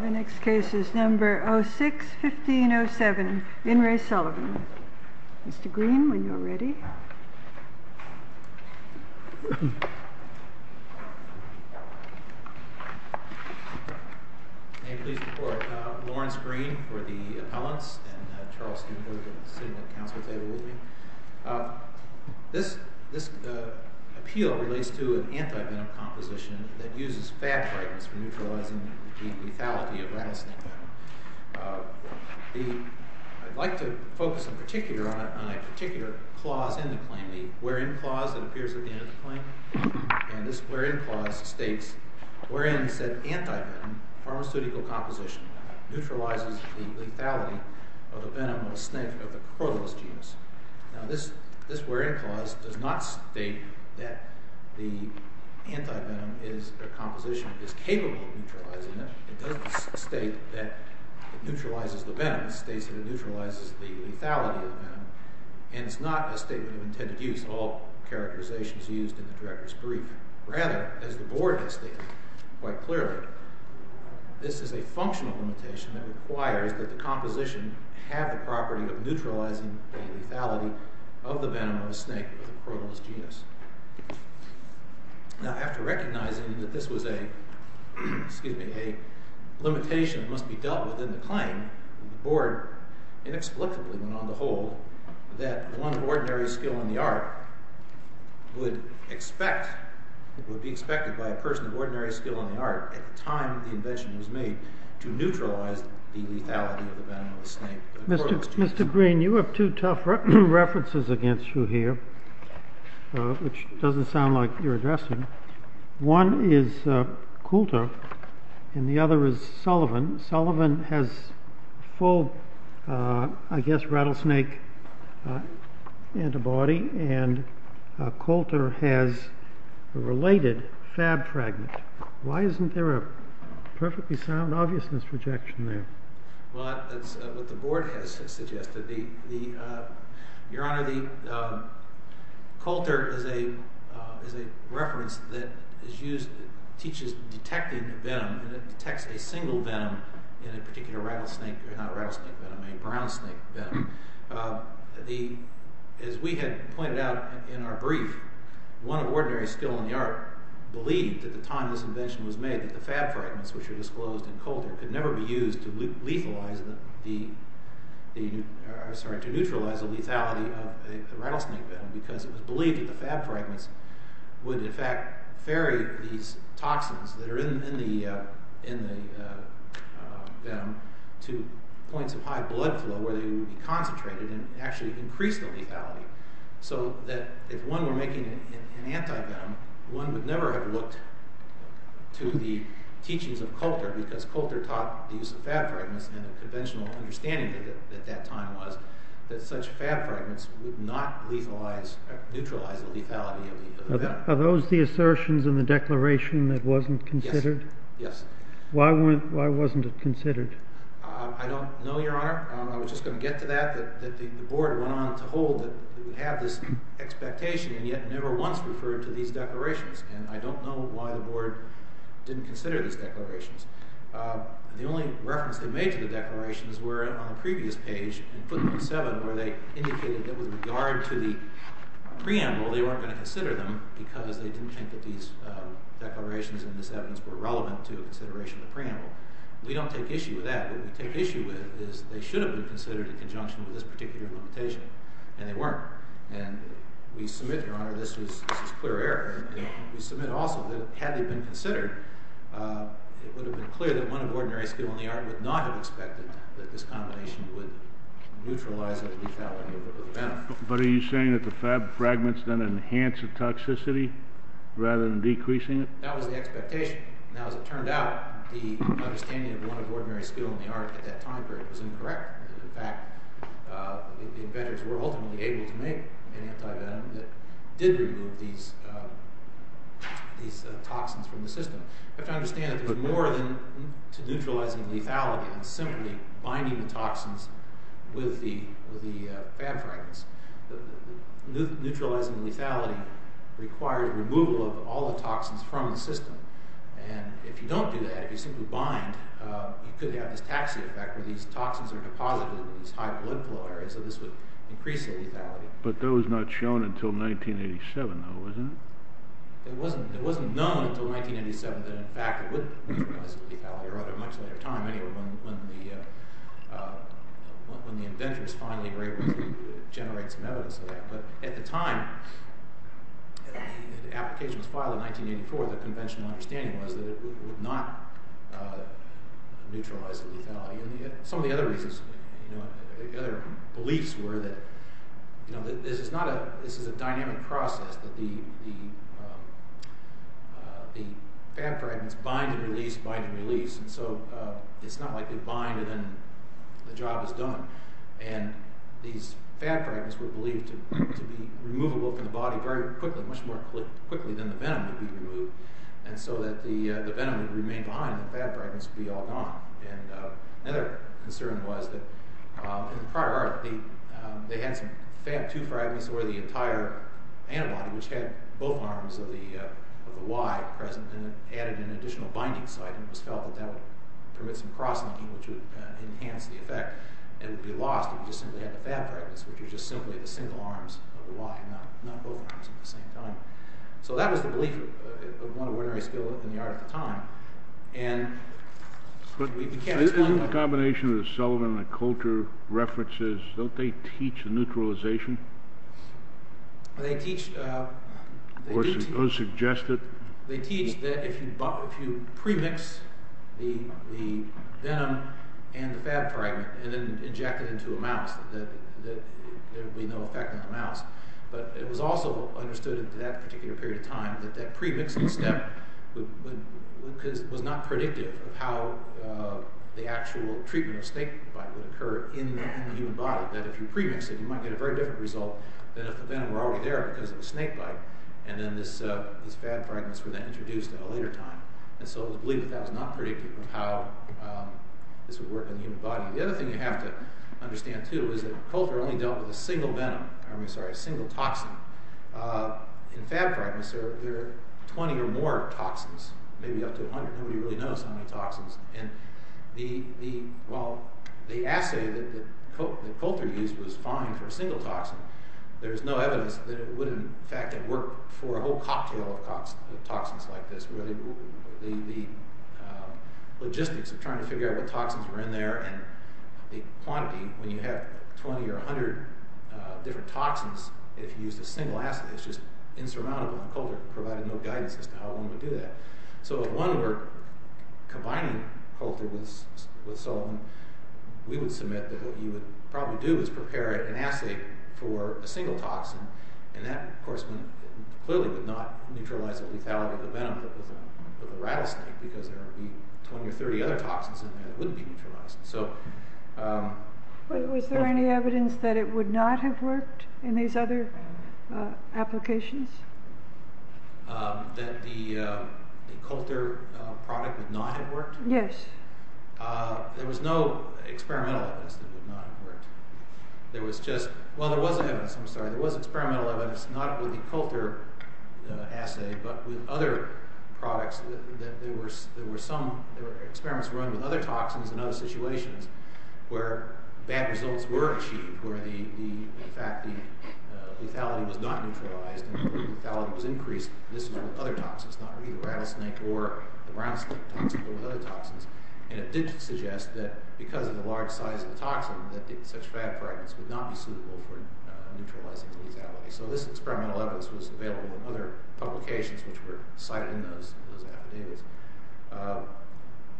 The next case is number 06-1507, In Re Sullivan. Mr. Green, when you're ready. Please report. Lawrence Green for the appellants. This appeal relates to an anti-venom composition that uses fab fragments for neutralizing the lethality of rattlesnake venom. I'd like to point out that this is a particular clause in the claim, the where-in clause that appears at the end of the claim. And this where-in clause states, wherein said anti-venom pharmaceutical composition neutralizes the lethality of the venom of a snake of the Corvallis genus. Now this where-in clause does not state that the anti-venom composition is capable of neutralizing the lethality of the venom. It doesn't state that it neutralizes the venom. It states that it neutralizes the lethality of the venom. And it's not a statement of intended use. All characterization is used in the director's brief. Rather, as the board has stated quite clearly, this is a functional limitation that requires that the composition have the property of neutralizing the lethality of the venom of a snake of the Corvallis genus. Now after recognizing that this was a limitation that must be dealt with in the claim, the board inexplicably went on to hold that one of ordinary skill in the art would be expected by a person of ordinary skill in the art at the time the invention was made to neutralize the lethality of the venom of a snake of the Corvallis genus. Mr. Green, you have two tough references against you here, which doesn't sound like you're addressing. One is Coulter, and the other is Sullivan. Sullivan has full, I guess, rattlesnake antibody, and Coulter has a related fab fragment. Why isn't there a perfectly sound obviousness projection there? Well, that's what the board has suggested. Your Honor, Coulter is a reference that teaches detecting venom, and it detects a single venom in a particular rattlesnake, or not a rattlesnake venom, a brown snake venom. As we had pointed out in our brief, one of ordinary skill in the art believed at the time this invention was made that the fab fragments which were used to neutralize the lethality of the rattlesnake venom, because it was believed that the fab fragments would in fact ferry these toxins that are in the venom to points of high blood flow where they would be concentrated and actually increase the lethality. So that if one were making an anti-venom, one would never have looked to the teachings of Coulter, because Coulter taught the use of fab fragments and a conventional understanding at that time was that such fab fragments would not neutralize the lethality of the venom. Are those the assertions in the declaration that wasn't considered? Yes. Why wasn't it considered? I don't know, Your Honor. I was just going to get to that. The board went on to hold that we have this expectation, and yet never once referred to these declarations. And I The only reference they made to the declarations were on the previous page in footnote 7 where they indicated that with regard to the preamble, they weren't going to consider them because they didn't think that these declarations and this evidence were relevant to a consideration of the preamble. We don't take issue with that. What we take issue with is they should have been considered in conjunction with this particular limitation, and they weren't. And we submit, Your Honor, this is clear error. We submit also that had they been considered, it would have been clear that one of ordinary skill in the art would not have expected that this combination would neutralize the lethality of the venom. But are you saying that the fab fragments then enhance the toxicity rather than decreasing it? That was the expectation. Now, as it turned out, the understanding of one of ordinary skill in the art at that time period was incorrect. In fact, the inventors were ultimately able to make an anti-venom that did remove these toxins from the system. You have to understand that there's more to neutralizing lethality than simply binding the toxins with the fab fragments. Neutralizing lethality requires removal of all the toxins from the system. And if you don't do that, if you simply bind, you could have this taxi effect where these toxins are deposited in these high blood flow areas, so this would increase the lethality. But that was not shown until 1987, though, wasn't it? It wasn't known until 1987 that in fact it would neutralize the lethality, or at a much later time, anyway, when the inventors finally were able to generate some evidence of that. But at the time the application was filed in 1984, the conventional understanding was that it would not neutralize the lethality. Some of the other reasons, the other beliefs were that this is a dynamic process, that the fab fragments bind and release, bind and release, and so it's not like they bind and then the job is done. And these fab fragments were believed to be removable from the body very quickly, much more quickly than the venom would be removed, and so that the venom would remain behind and the fab fragments would be all gone. And another concern was that in the prior art, they had some fab 2 fragments where the entire antibody, which had both arms of the Y present, and it added an additional binding site, and it was felt that that would permit some cross-linking, which would enhance the effect, and it would be lost if you just simply had the fab fragments, which are just simply the single arms of the Y, not both arms at the same time. So that was the belief of one of Winnery's skill in the art at the time, and we can't explain that. Isn't the combination of the Sullivan and the Coulter references, don't they teach neutralization? They teach... Or suggest it? They teach that if you premix the venom and the fab fragment and then inject it into a mouse, there would be no effect on the mouse. But it was also understood in that particular period of time that that premixing step was not predictive of how the actual treatment of snakebite would occur in the human body, that if you premix it, you might get a very different result than if the venom were already there because of the snakebite, and then these fab fragments were then introduced at a later time. And so it was believed that that was not predictive of how this would work in the human body. The other thing you have to understand, too, is that Coulter only dealt with a single toxin. In fab fragments, there are 20 or more toxins, maybe up to 100. Nobody really knows how many toxins. And while the assay that Coulter used was fine for a single toxin, there's no evidence that it would, in fact, have worked for a whole cocktail of toxins like this, where the logistics of trying to figure out what toxins were in there and the quantity, when you have 20 or 100 different toxins, if you used a single assay, it's just insurmountable, and Coulter provided no guidance as to how one would do that. So if one were combining Coulter with Sullivan, we would submit that what you would probably do is prepare an assay for a single toxin, and that, of course, clearly would not neutralize the lethality of the rattlesnake, because there would be 20 or 30 other toxins in there that wouldn't be neutralized. But was there any evidence that it would not have worked in these other applications? That the Coulter product would not have worked? Yes. There was no experimental evidence that it would not have worked. Well, there was an experimental evidence, not with the Coulter assay, but with other products that there were some experiments run with other toxins in other situations where bad results were achieved, where, in fact, the lethality was not neutralized and the lethality was increased with other toxins, not with either rattlesnake or the brown snake toxins, but with other toxins. And it did suggest that because of the large size of the toxin, that such fab fragments would not be suitable for neutralizing the lethality. So this experimental evidence was available in other publications which were cited in those affidavits.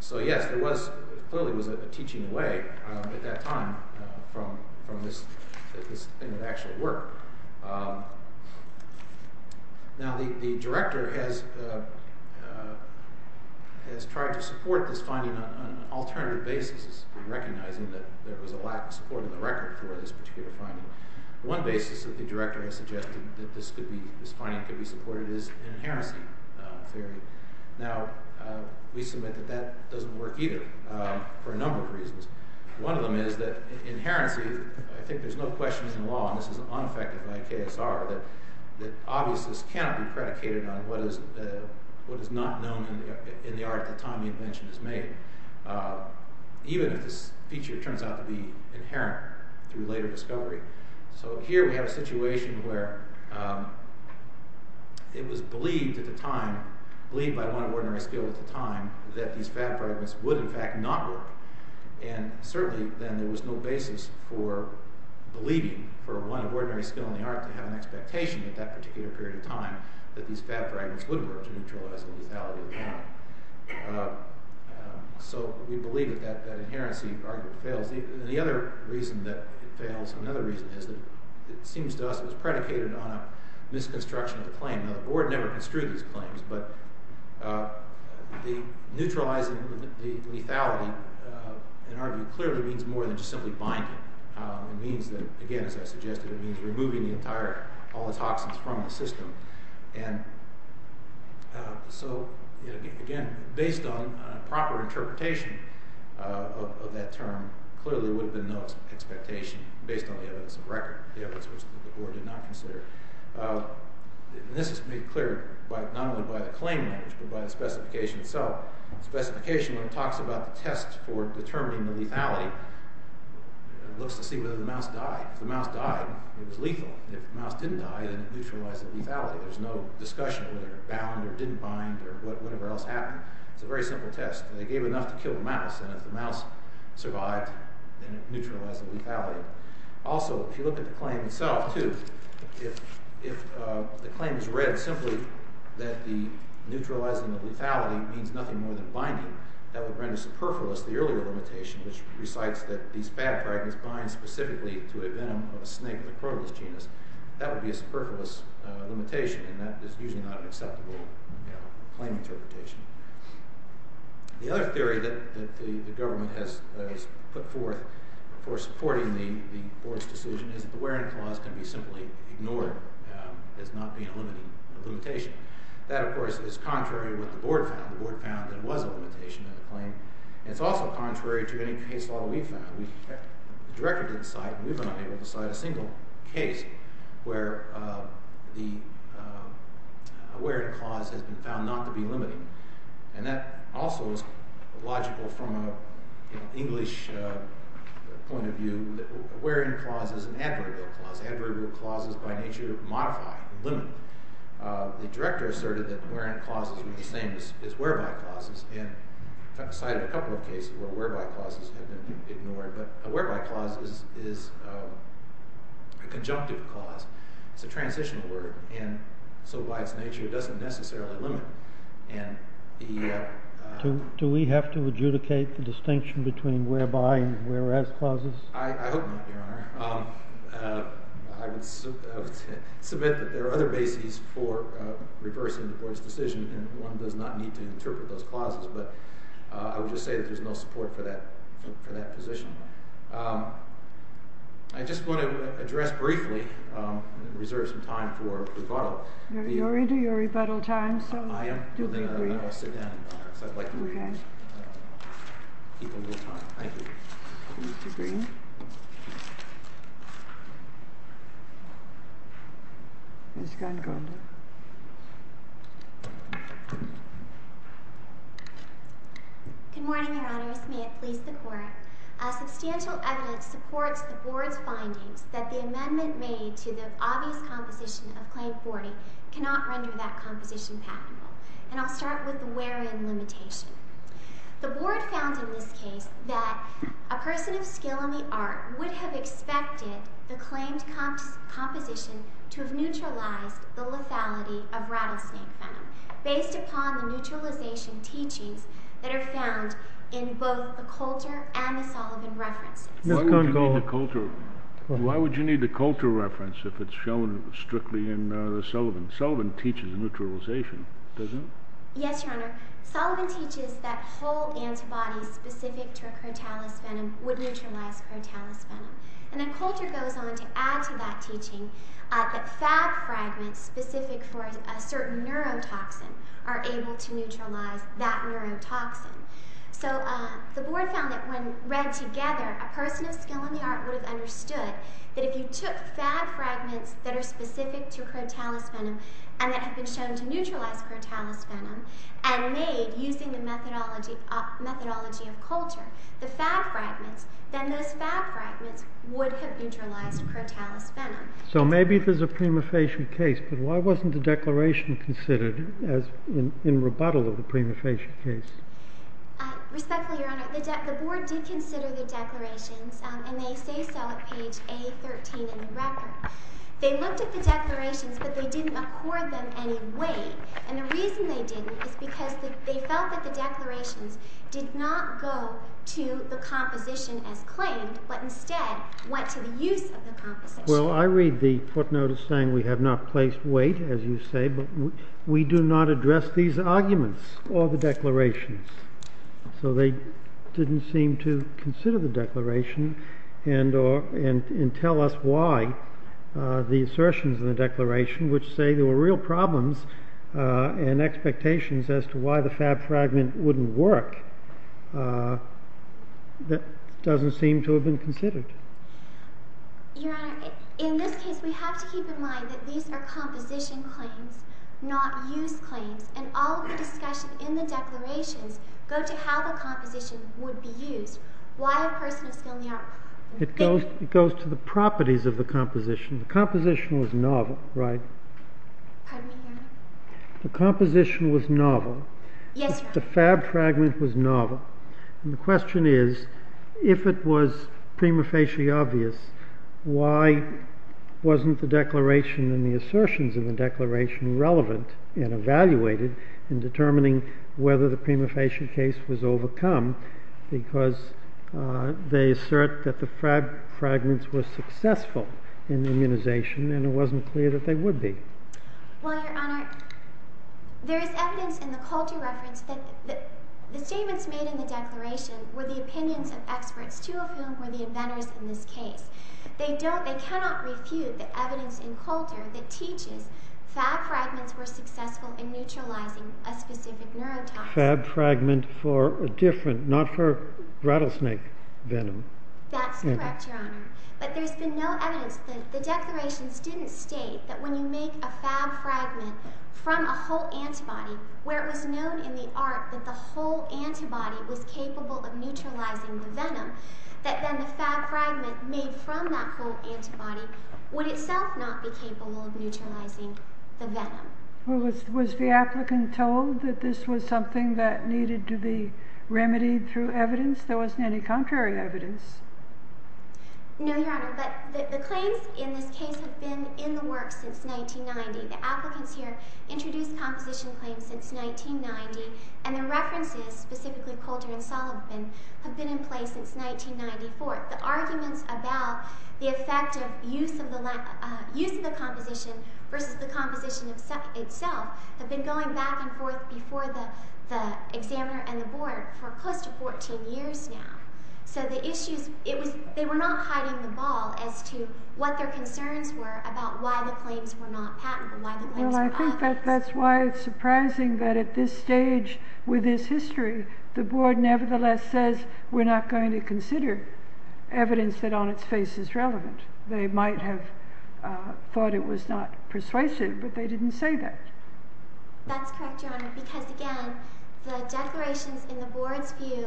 So, yes, there was, clearly was a teaching away at that time from this thing of actual work. Now, the director has tried to support this finding on an alternative basis, recognizing that there was a lack of support in the record for this particular finding. One basis that the director has suggested that this finding could be supported is inherency theory. Now, we submit that that doesn't work either for a number of reasons. One of them is that inherency, I think there's no question in law, and this is unaffected by KSR, that obviousness cannot be predicated on what is not known in the art at the time the invention is made. Even if this feature turns out to be inherent through later discovery. So here we have a situation where it was believed at the time, believed by one of ordinary skill at the time, that these fab fragments would in fact not work. And certainly then there was no basis for believing for one of ordinary skill in the art to have an expectation at that particular period of time that these fab fragments would work to neutralize the lethality. So we believe that that inherency argument fails. The other reason that it fails, another reason is that it seems to us it was predicated on a misconstruction of the claim. Now, the board never construed these claims, but neutralizing the lethality, in our view, clearly means more than just simply binding. It means that, again, as I suggested, it means removing the entire, all our interpretation of that term clearly would have been no expectation based on the evidence of record, the evidence which the board did not consider. This is made clear not only by the claim language, but by the specification itself. The specification talks about the test for determining the lethality. It looks to see whether the mouse died. If the mouse died, it was lethal. If the mouse didn't die, then it neutralized the lethality. There's no discussion of whether it bound or didn't bind or whatever else happened. It's a very simple test. They gave enough to kill the mouse, and if the mouse survived, then it neutralized the lethality. Also, if you look at the claim itself, too, if the claim is read simply that the neutralizing of lethality means nothing more than binding, that would render superfluous the earlier limitation which recites that these fab fragments bind specifically to a venom of a snake of the cotylus genus. That would be a superfluous limitation, and that is usually not an acceptable claim interpretation. The other theory that the government has put forth for supporting the board's decision is that the wearing clause can be simply ignored as not being a limitation. That, of course, is contrary to what the board found. The board found that it was a limitation of the claim. It's also contrary to any case law we found. The director didn't cite, and we've been unable to cite a single case where the wearing clause has been found not to be limiting. That also is logical from an English point of view. The wearing clause is an adverbial clause. Adverbial clause is, by nature, modified, limited. The director asserted that the wearing clauses were the same as whereby clauses, and cited a couple of cases where whereby clauses have been ignored. But a whereby clause is a conjunctive clause. It's a transitional word, and so by its nature it doesn't necessarily limit. Do we have to adjudicate the distinction between whereby and whereas clauses? I hope not, Your Honor. I would submit that there are other bases for reversing the board's decision, and one does not need to interpret those clauses. But I would just say that there's no support for that position. I just want to address briefly and reserve some time for rebuttal. You're into your rebuttal time, so do be brief. Good morning, Your Honors. May it please the Court. Substantial evidence supports the board's findings that the amendment made to the obvious composition of Claim 40 cannot render that clause neutral. And I'll start with the wear-in limitation. The board found in this case that a person of skill in the art would have expected the claimed composition to have neutralized the lethality of rattlesnake venom based upon the neutralization teachings that are found in both the Coulter and the Sullivan references. Why would you need the Coulter reference if it's shown strictly in the Sullivan? Sullivan teaches neutralization, doesn't it? Yes, Your Honor. Sullivan teaches that whole antibodies specific to a crotalis venom would neutralize crotalis venom. And then Coulter goes on to add to that teaching that fab fragments specific for a certain neurotoxin are able to neutralize that neurotoxin. So the board found that when read together, a person of skill in the art would have understood that if you took fab fragments that are specific to crotalis venom and that have been shown to neutralize crotalis venom and made using the methodology of Coulter, the fab fragments, then those fab fragments would have neutralized crotalis venom. So maybe there's a prima facie case, but why wasn't the declaration considered in rebuttal of the prima facie case? Respectfully, Your Honor, the board did consider the declarations, and they say so at page A13 in the record. They looked at the declarations, but they didn't accord them any weight. And the reason they didn't is because they felt that the declarations did not go to the composition as claimed, but instead went to the use of the composition. Well, I read the footnote as saying we have not placed weight, as you say, but we do not address these arguments or the declarations. So they didn't seem to consider the declaration and tell us why the assertions in the declaration, which say there were real problems and expectations as to why the fab fragment wouldn't work, doesn't seem to have been considered. Your Honor, in this case, we have to keep in mind that these are composition claims, not use claims. And all of the discussion in the declarations go to how the composition would be used. Why a person of skill in the art? It goes to the properties of the composition. The composition was novel, right? Pardon me, Your Honor? The composition was novel. Yes, Your Honor. Yes, the fab fragment was novel. And the question is, if it was prima facie obvious, why wasn't the declaration and the assertions in the declaration relevant and evaluated in determining whether the prima facie case was overcome? Because they assert that the fab fragments were successful in immunization, and it wasn't clear that they would be. Well, Your Honor, there is evidence in the Coulter reference that the statements made in the declaration were the opinions of experts, two of whom were the inventors in this case. They cannot refute the evidence in Coulter that teaches fab fragments were successful in neutralizing a specific neurotoxin. Fab fragment for a different, not for rattlesnake venom. That's correct, Your Honor. But there's been no evidence that the declarations didn't state that when you make a fab fragment from a whole antibody, where it was known in the art that the whole antibody was capable of neutralizing the venom, that then the fab fragment made from that whole antibody would itself not be capable of neutralizing the venom. Well, was the applicant told that this was something that needed to be remedied through evidence? There wasn't any contrary evidence. No, Your Honor, but the claims in this case have been in the works since 1990. The applicants here introduced composition claims since 1990, and the references, specifically Coulter and Sullivan, have been in place since 1994. The arguments about the effect of use of the composition versus the composition itself have been going back and forth before the examiner and the board for close to 14 years now. So the issues, they were not hiding the ball as to what their concerns were about why the claims were not patentable. Well, I think that's why it's surprising that at this stage with this history, the board nevertheless says we're not going to consider evidence that on its face is relevant. They might have thought it was not persuasive, but they didn't say that. That's correct, Your Honor, because again, the declarations in the board's view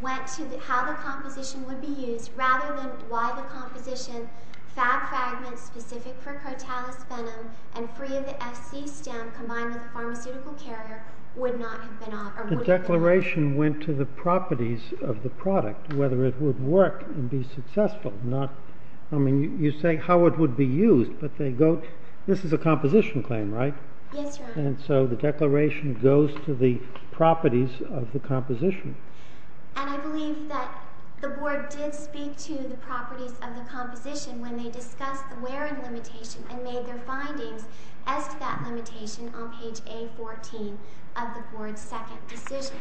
went to how the composition would be used rather than why the composition, fab fragments specific for Crotalus venom and free of the FC stem combined with a pharmaceutical carrier, would not have been offered. The declaration went to the properties of the product, whether it would work and be successful. I mean, you say how it would be used, but this is a composition claim, right? Yes, Your Honor. And so the declaration goes to the properties of the composition. And I believe that the board did speak to the properties of the composition when they discussed the wear and limitation and made their findings as to that limitation on page A14 of the board's second decision.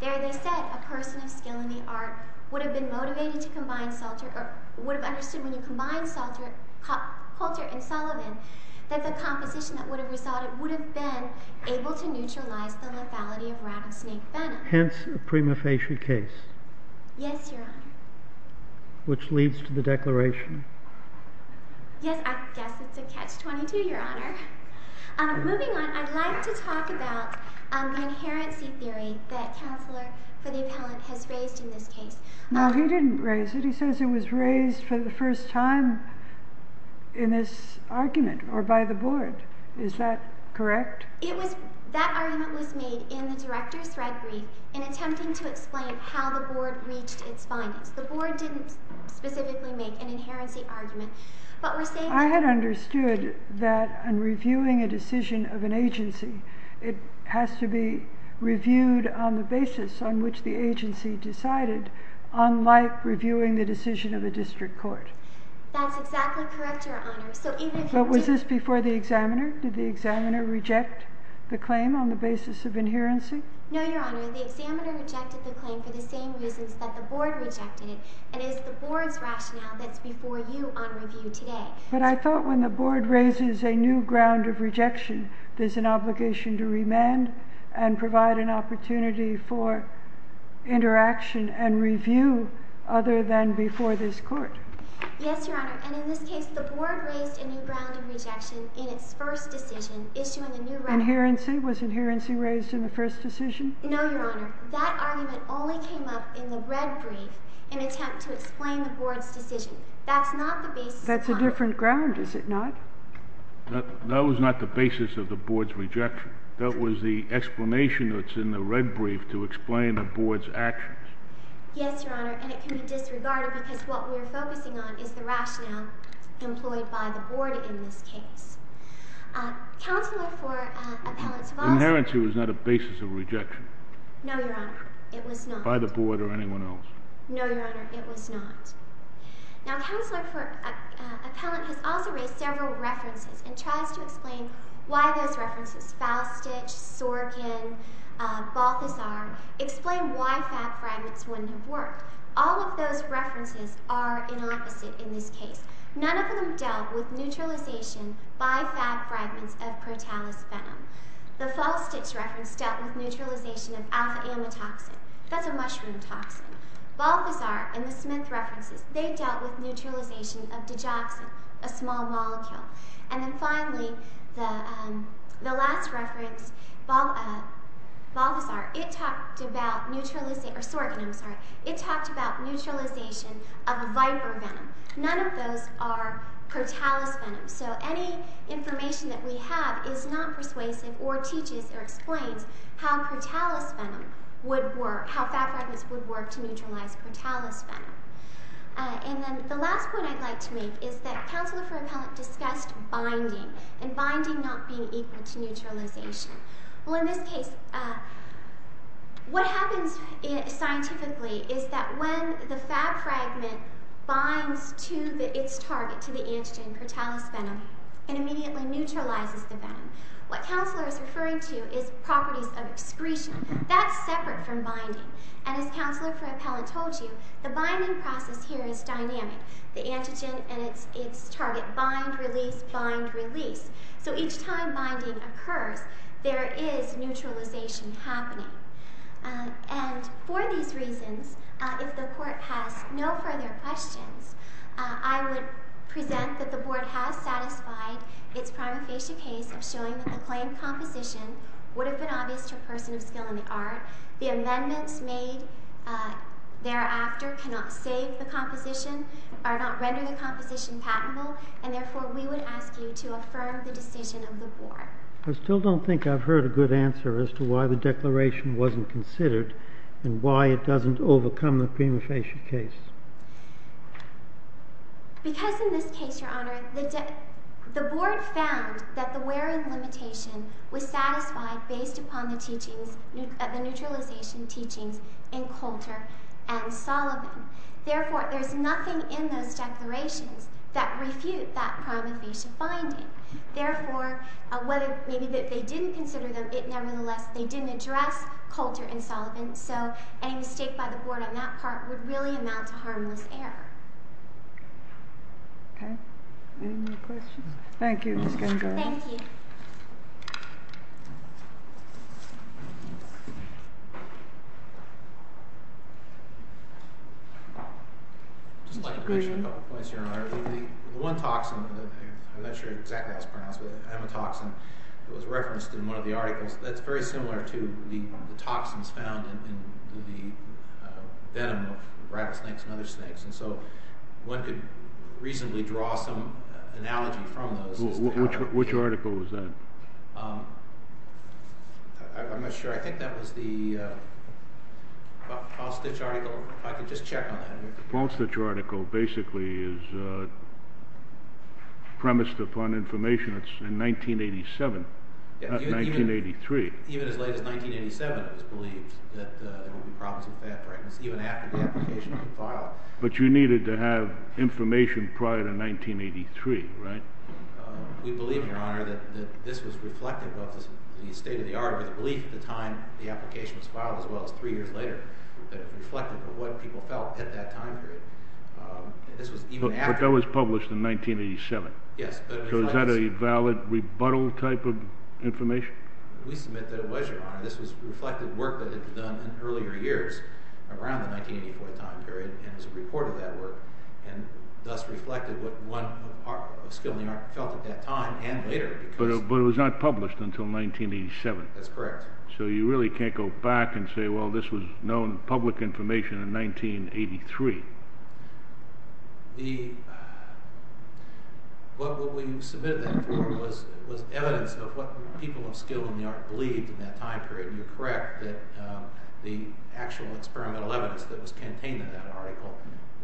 There they said a person of skill in the art would have been motivated to combine Salter, or would have understood when you combine Salter and Sullivan that the composition that would have resulted would have been able to neutralize the lethality of rattlesnake venom. Hence, a prima facie case. Yes, Your Honor. Which leads to the declaration. Yes, I guess it's a catch-22, Your Honor. Moving on, I'd like to talk about the inherency theory that Counselor for the Appellant has raised in this case. No, he didn't raise it. He says it was raised for the first time in this argument, or by the board. Is that correct? That argument was made in the Director's Threadbrief in attempting to explain how the board reached its findings. The board didn't specifically make an inherency argument. I had understood that in reviewing a decision of an agency, it has to be reviewed on the basis of inherency, unlike reviewing the decision of a district court. That's exactly correct, Your Honor. But was this before the examiner? Did the examiner reject the claim on the basis of inherency? No, Your Honor. The examiner rejected the claim for the same reasons that the board rejected it. It is the board's rationale that's before you on review today. But I thought when the board raises a new ground of rejection, there's an obligation to remand and provide an opportunity for interaction and review other than before this court. Yes, Your Honor. And in this case, the board raised a new ground of rejection in its first decision, issuing a new record. Inherency? Was inherency raised in the first decision? No, Your Honor. That argument only came up in the Threadbrief in an attempt to explain the board's decision. That's not the basis of the board's rejection. That's a different ground, is it not? That was not the basis of the board's rejection. That was the explanation that's in the Threadbrief to explain the board's actions. Yes, Your Honor. And it can be disregarded because what we're focusing on is the rationale employed by the board in this case. Counselor for Appellant Tavolosi— Inherency was not a basis of rejection. No, Your Honor. It was not. By the board or anyone else. No, Your Honor. It was not. Now, Counselor for Appellant has also raised several references and tries to explain why those references—Falstitch, Sorgen, Balthazar—explain why fab fragments wouldn't have worked. All of those references are an opposite in this case. None of them dealt with neutralization by fab fragments of protalis venom. The Falstitch reference dealt with neutralization of alpha-amatoxin. That's a mushroom toxin. Balthazar and the Smith references, they dealt with neutralization of digoxin, a small molecule. And then finally, the last reference, Balthazar, it talked about neutralization—or Sorgen, I'm sorry—it talked about neutralization of viper venom. None of those are protalis venom. So any information that we have is not persuasive or teaches or explains how protalis venom would work, how fab fragments would work to neutralize protalis venom. And then the last point I'd like to make is that Counselor for Appellant discussed binding and binding not being equal to neutralization. Well, in this case, what happens scientifically is that when the fab fragment binds to its target, to the antigen, protalis venom, it immediately neutralizes the venom. What Counselor is referring to is properties of excretion. That's separate from binding. And as Counselor for Appellant told you, the binding process here is dynamic. The antigen and its target bind, release, bind, release. So each time binding occurs, there is neutralization happening. And for these reasons, if the Court has no further questions, I would present that the Board has satisfied its prima facie case of showing that the claim composition would have been obvious to a person of skill in the art. The amendments made thereafter cannot save the composition, are not rendering the composition patentable. And therefore, we would ask you to affirm the decision of the Board. I still don't think I've heard a good answer as to why the declaration wasn't considered and why it doesn't overcome the prima facie case. Because in this case, Your Honor, the Board found that the wear and limitation was satisfied based upon the neutralization teachings in Coulter and Sullivan. Therefore, there's nothing in those declarations that refute that prima facie finding. Therefore, whether maybe they didn't consider them, nevertheless, they didn't address Coulter and Sullivan. So any mistake by the Board on that part would really amount to harmless error. Okay. Any more questions? Thank you, Ms. Gandara. Thank you. I'd just like to mention a couple of points, Your Honor. The one toxin that I'm not sure exactly how it's pronounced, the hematoxin that was referenced in one of the articles, that's very similar to the toxins found in the venom of rattlesnakes and other snakes. And so one could reasonably draw some analogy from those. Which article was that? I'm not sure. I think that was the Paul Stitch article. If I could just check on that. The Paul Stitch article basically is premised upon information that's in 1987, not 1983. Even as late as 1987, it was believed that there would be problems with fat pregnancies even after the application was filed. But you needed to have information prior to 1983, right? We believe, Your Honor, that this was reflective of the state-of-the-art, or the belief at the time the application was filed as well as three years later, that it reflected what people felt at that time period. But that was published in 1987. Yes. So is that a valid rebuttal type of information? We submit that it was, Your Honor. This reflected work that had been done in earlier years around the 1984 time period and was a report of that work and thus reflected what one of the people of skill in the art felt at that time and later. But it was not published until 1987. That's correct. So you really can't go back and say, well, this was known public information in 1983. What we submitted that for was evidence of what people of skill in the art believed in that time period. You're correct that the actual experimental evidence that was contained in that article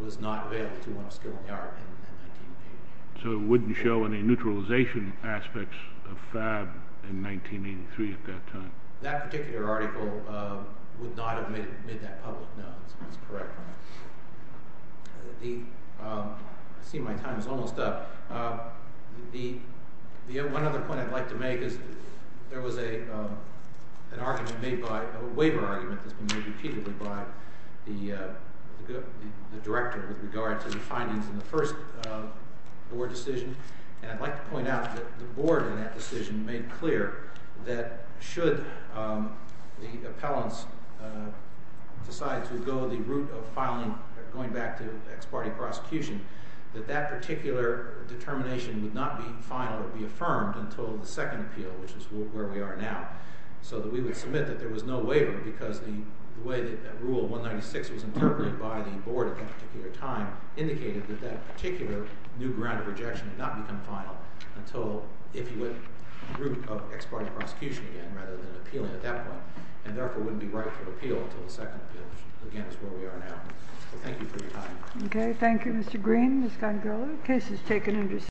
was not available to one of skill in the art in 1983. So it wouldn't show any neutralization aspects of FAB in 1983 at that time. That particular article would not have made that public. No, that's correct. I see my time is almost up. One other point I'd like to make is there was a waiver argument that's been made repeatedly by the director with regard to the findings in the first board decision. And I'd like to point out that the board in that decision made clear that should the appellants decide to go the route of filing, going back to ex parte prosecution, that that particular determination would not be final or be affirmed until the second appeal, which is where we are now. So that we would submit that there was no waiver, because the way that rule 196 was interpreted by the board at that particular time indicated that that particular new ground of rejection had not become final until if you went the route of ex parte prosecution again, rather than appealing at that point, and therefore wouldn't be right for appeal until the second appeal, which again is where we are now. So thank you for your time. OK. Thank you, Mr. Green. Ms. Gungor, the case is taken into session.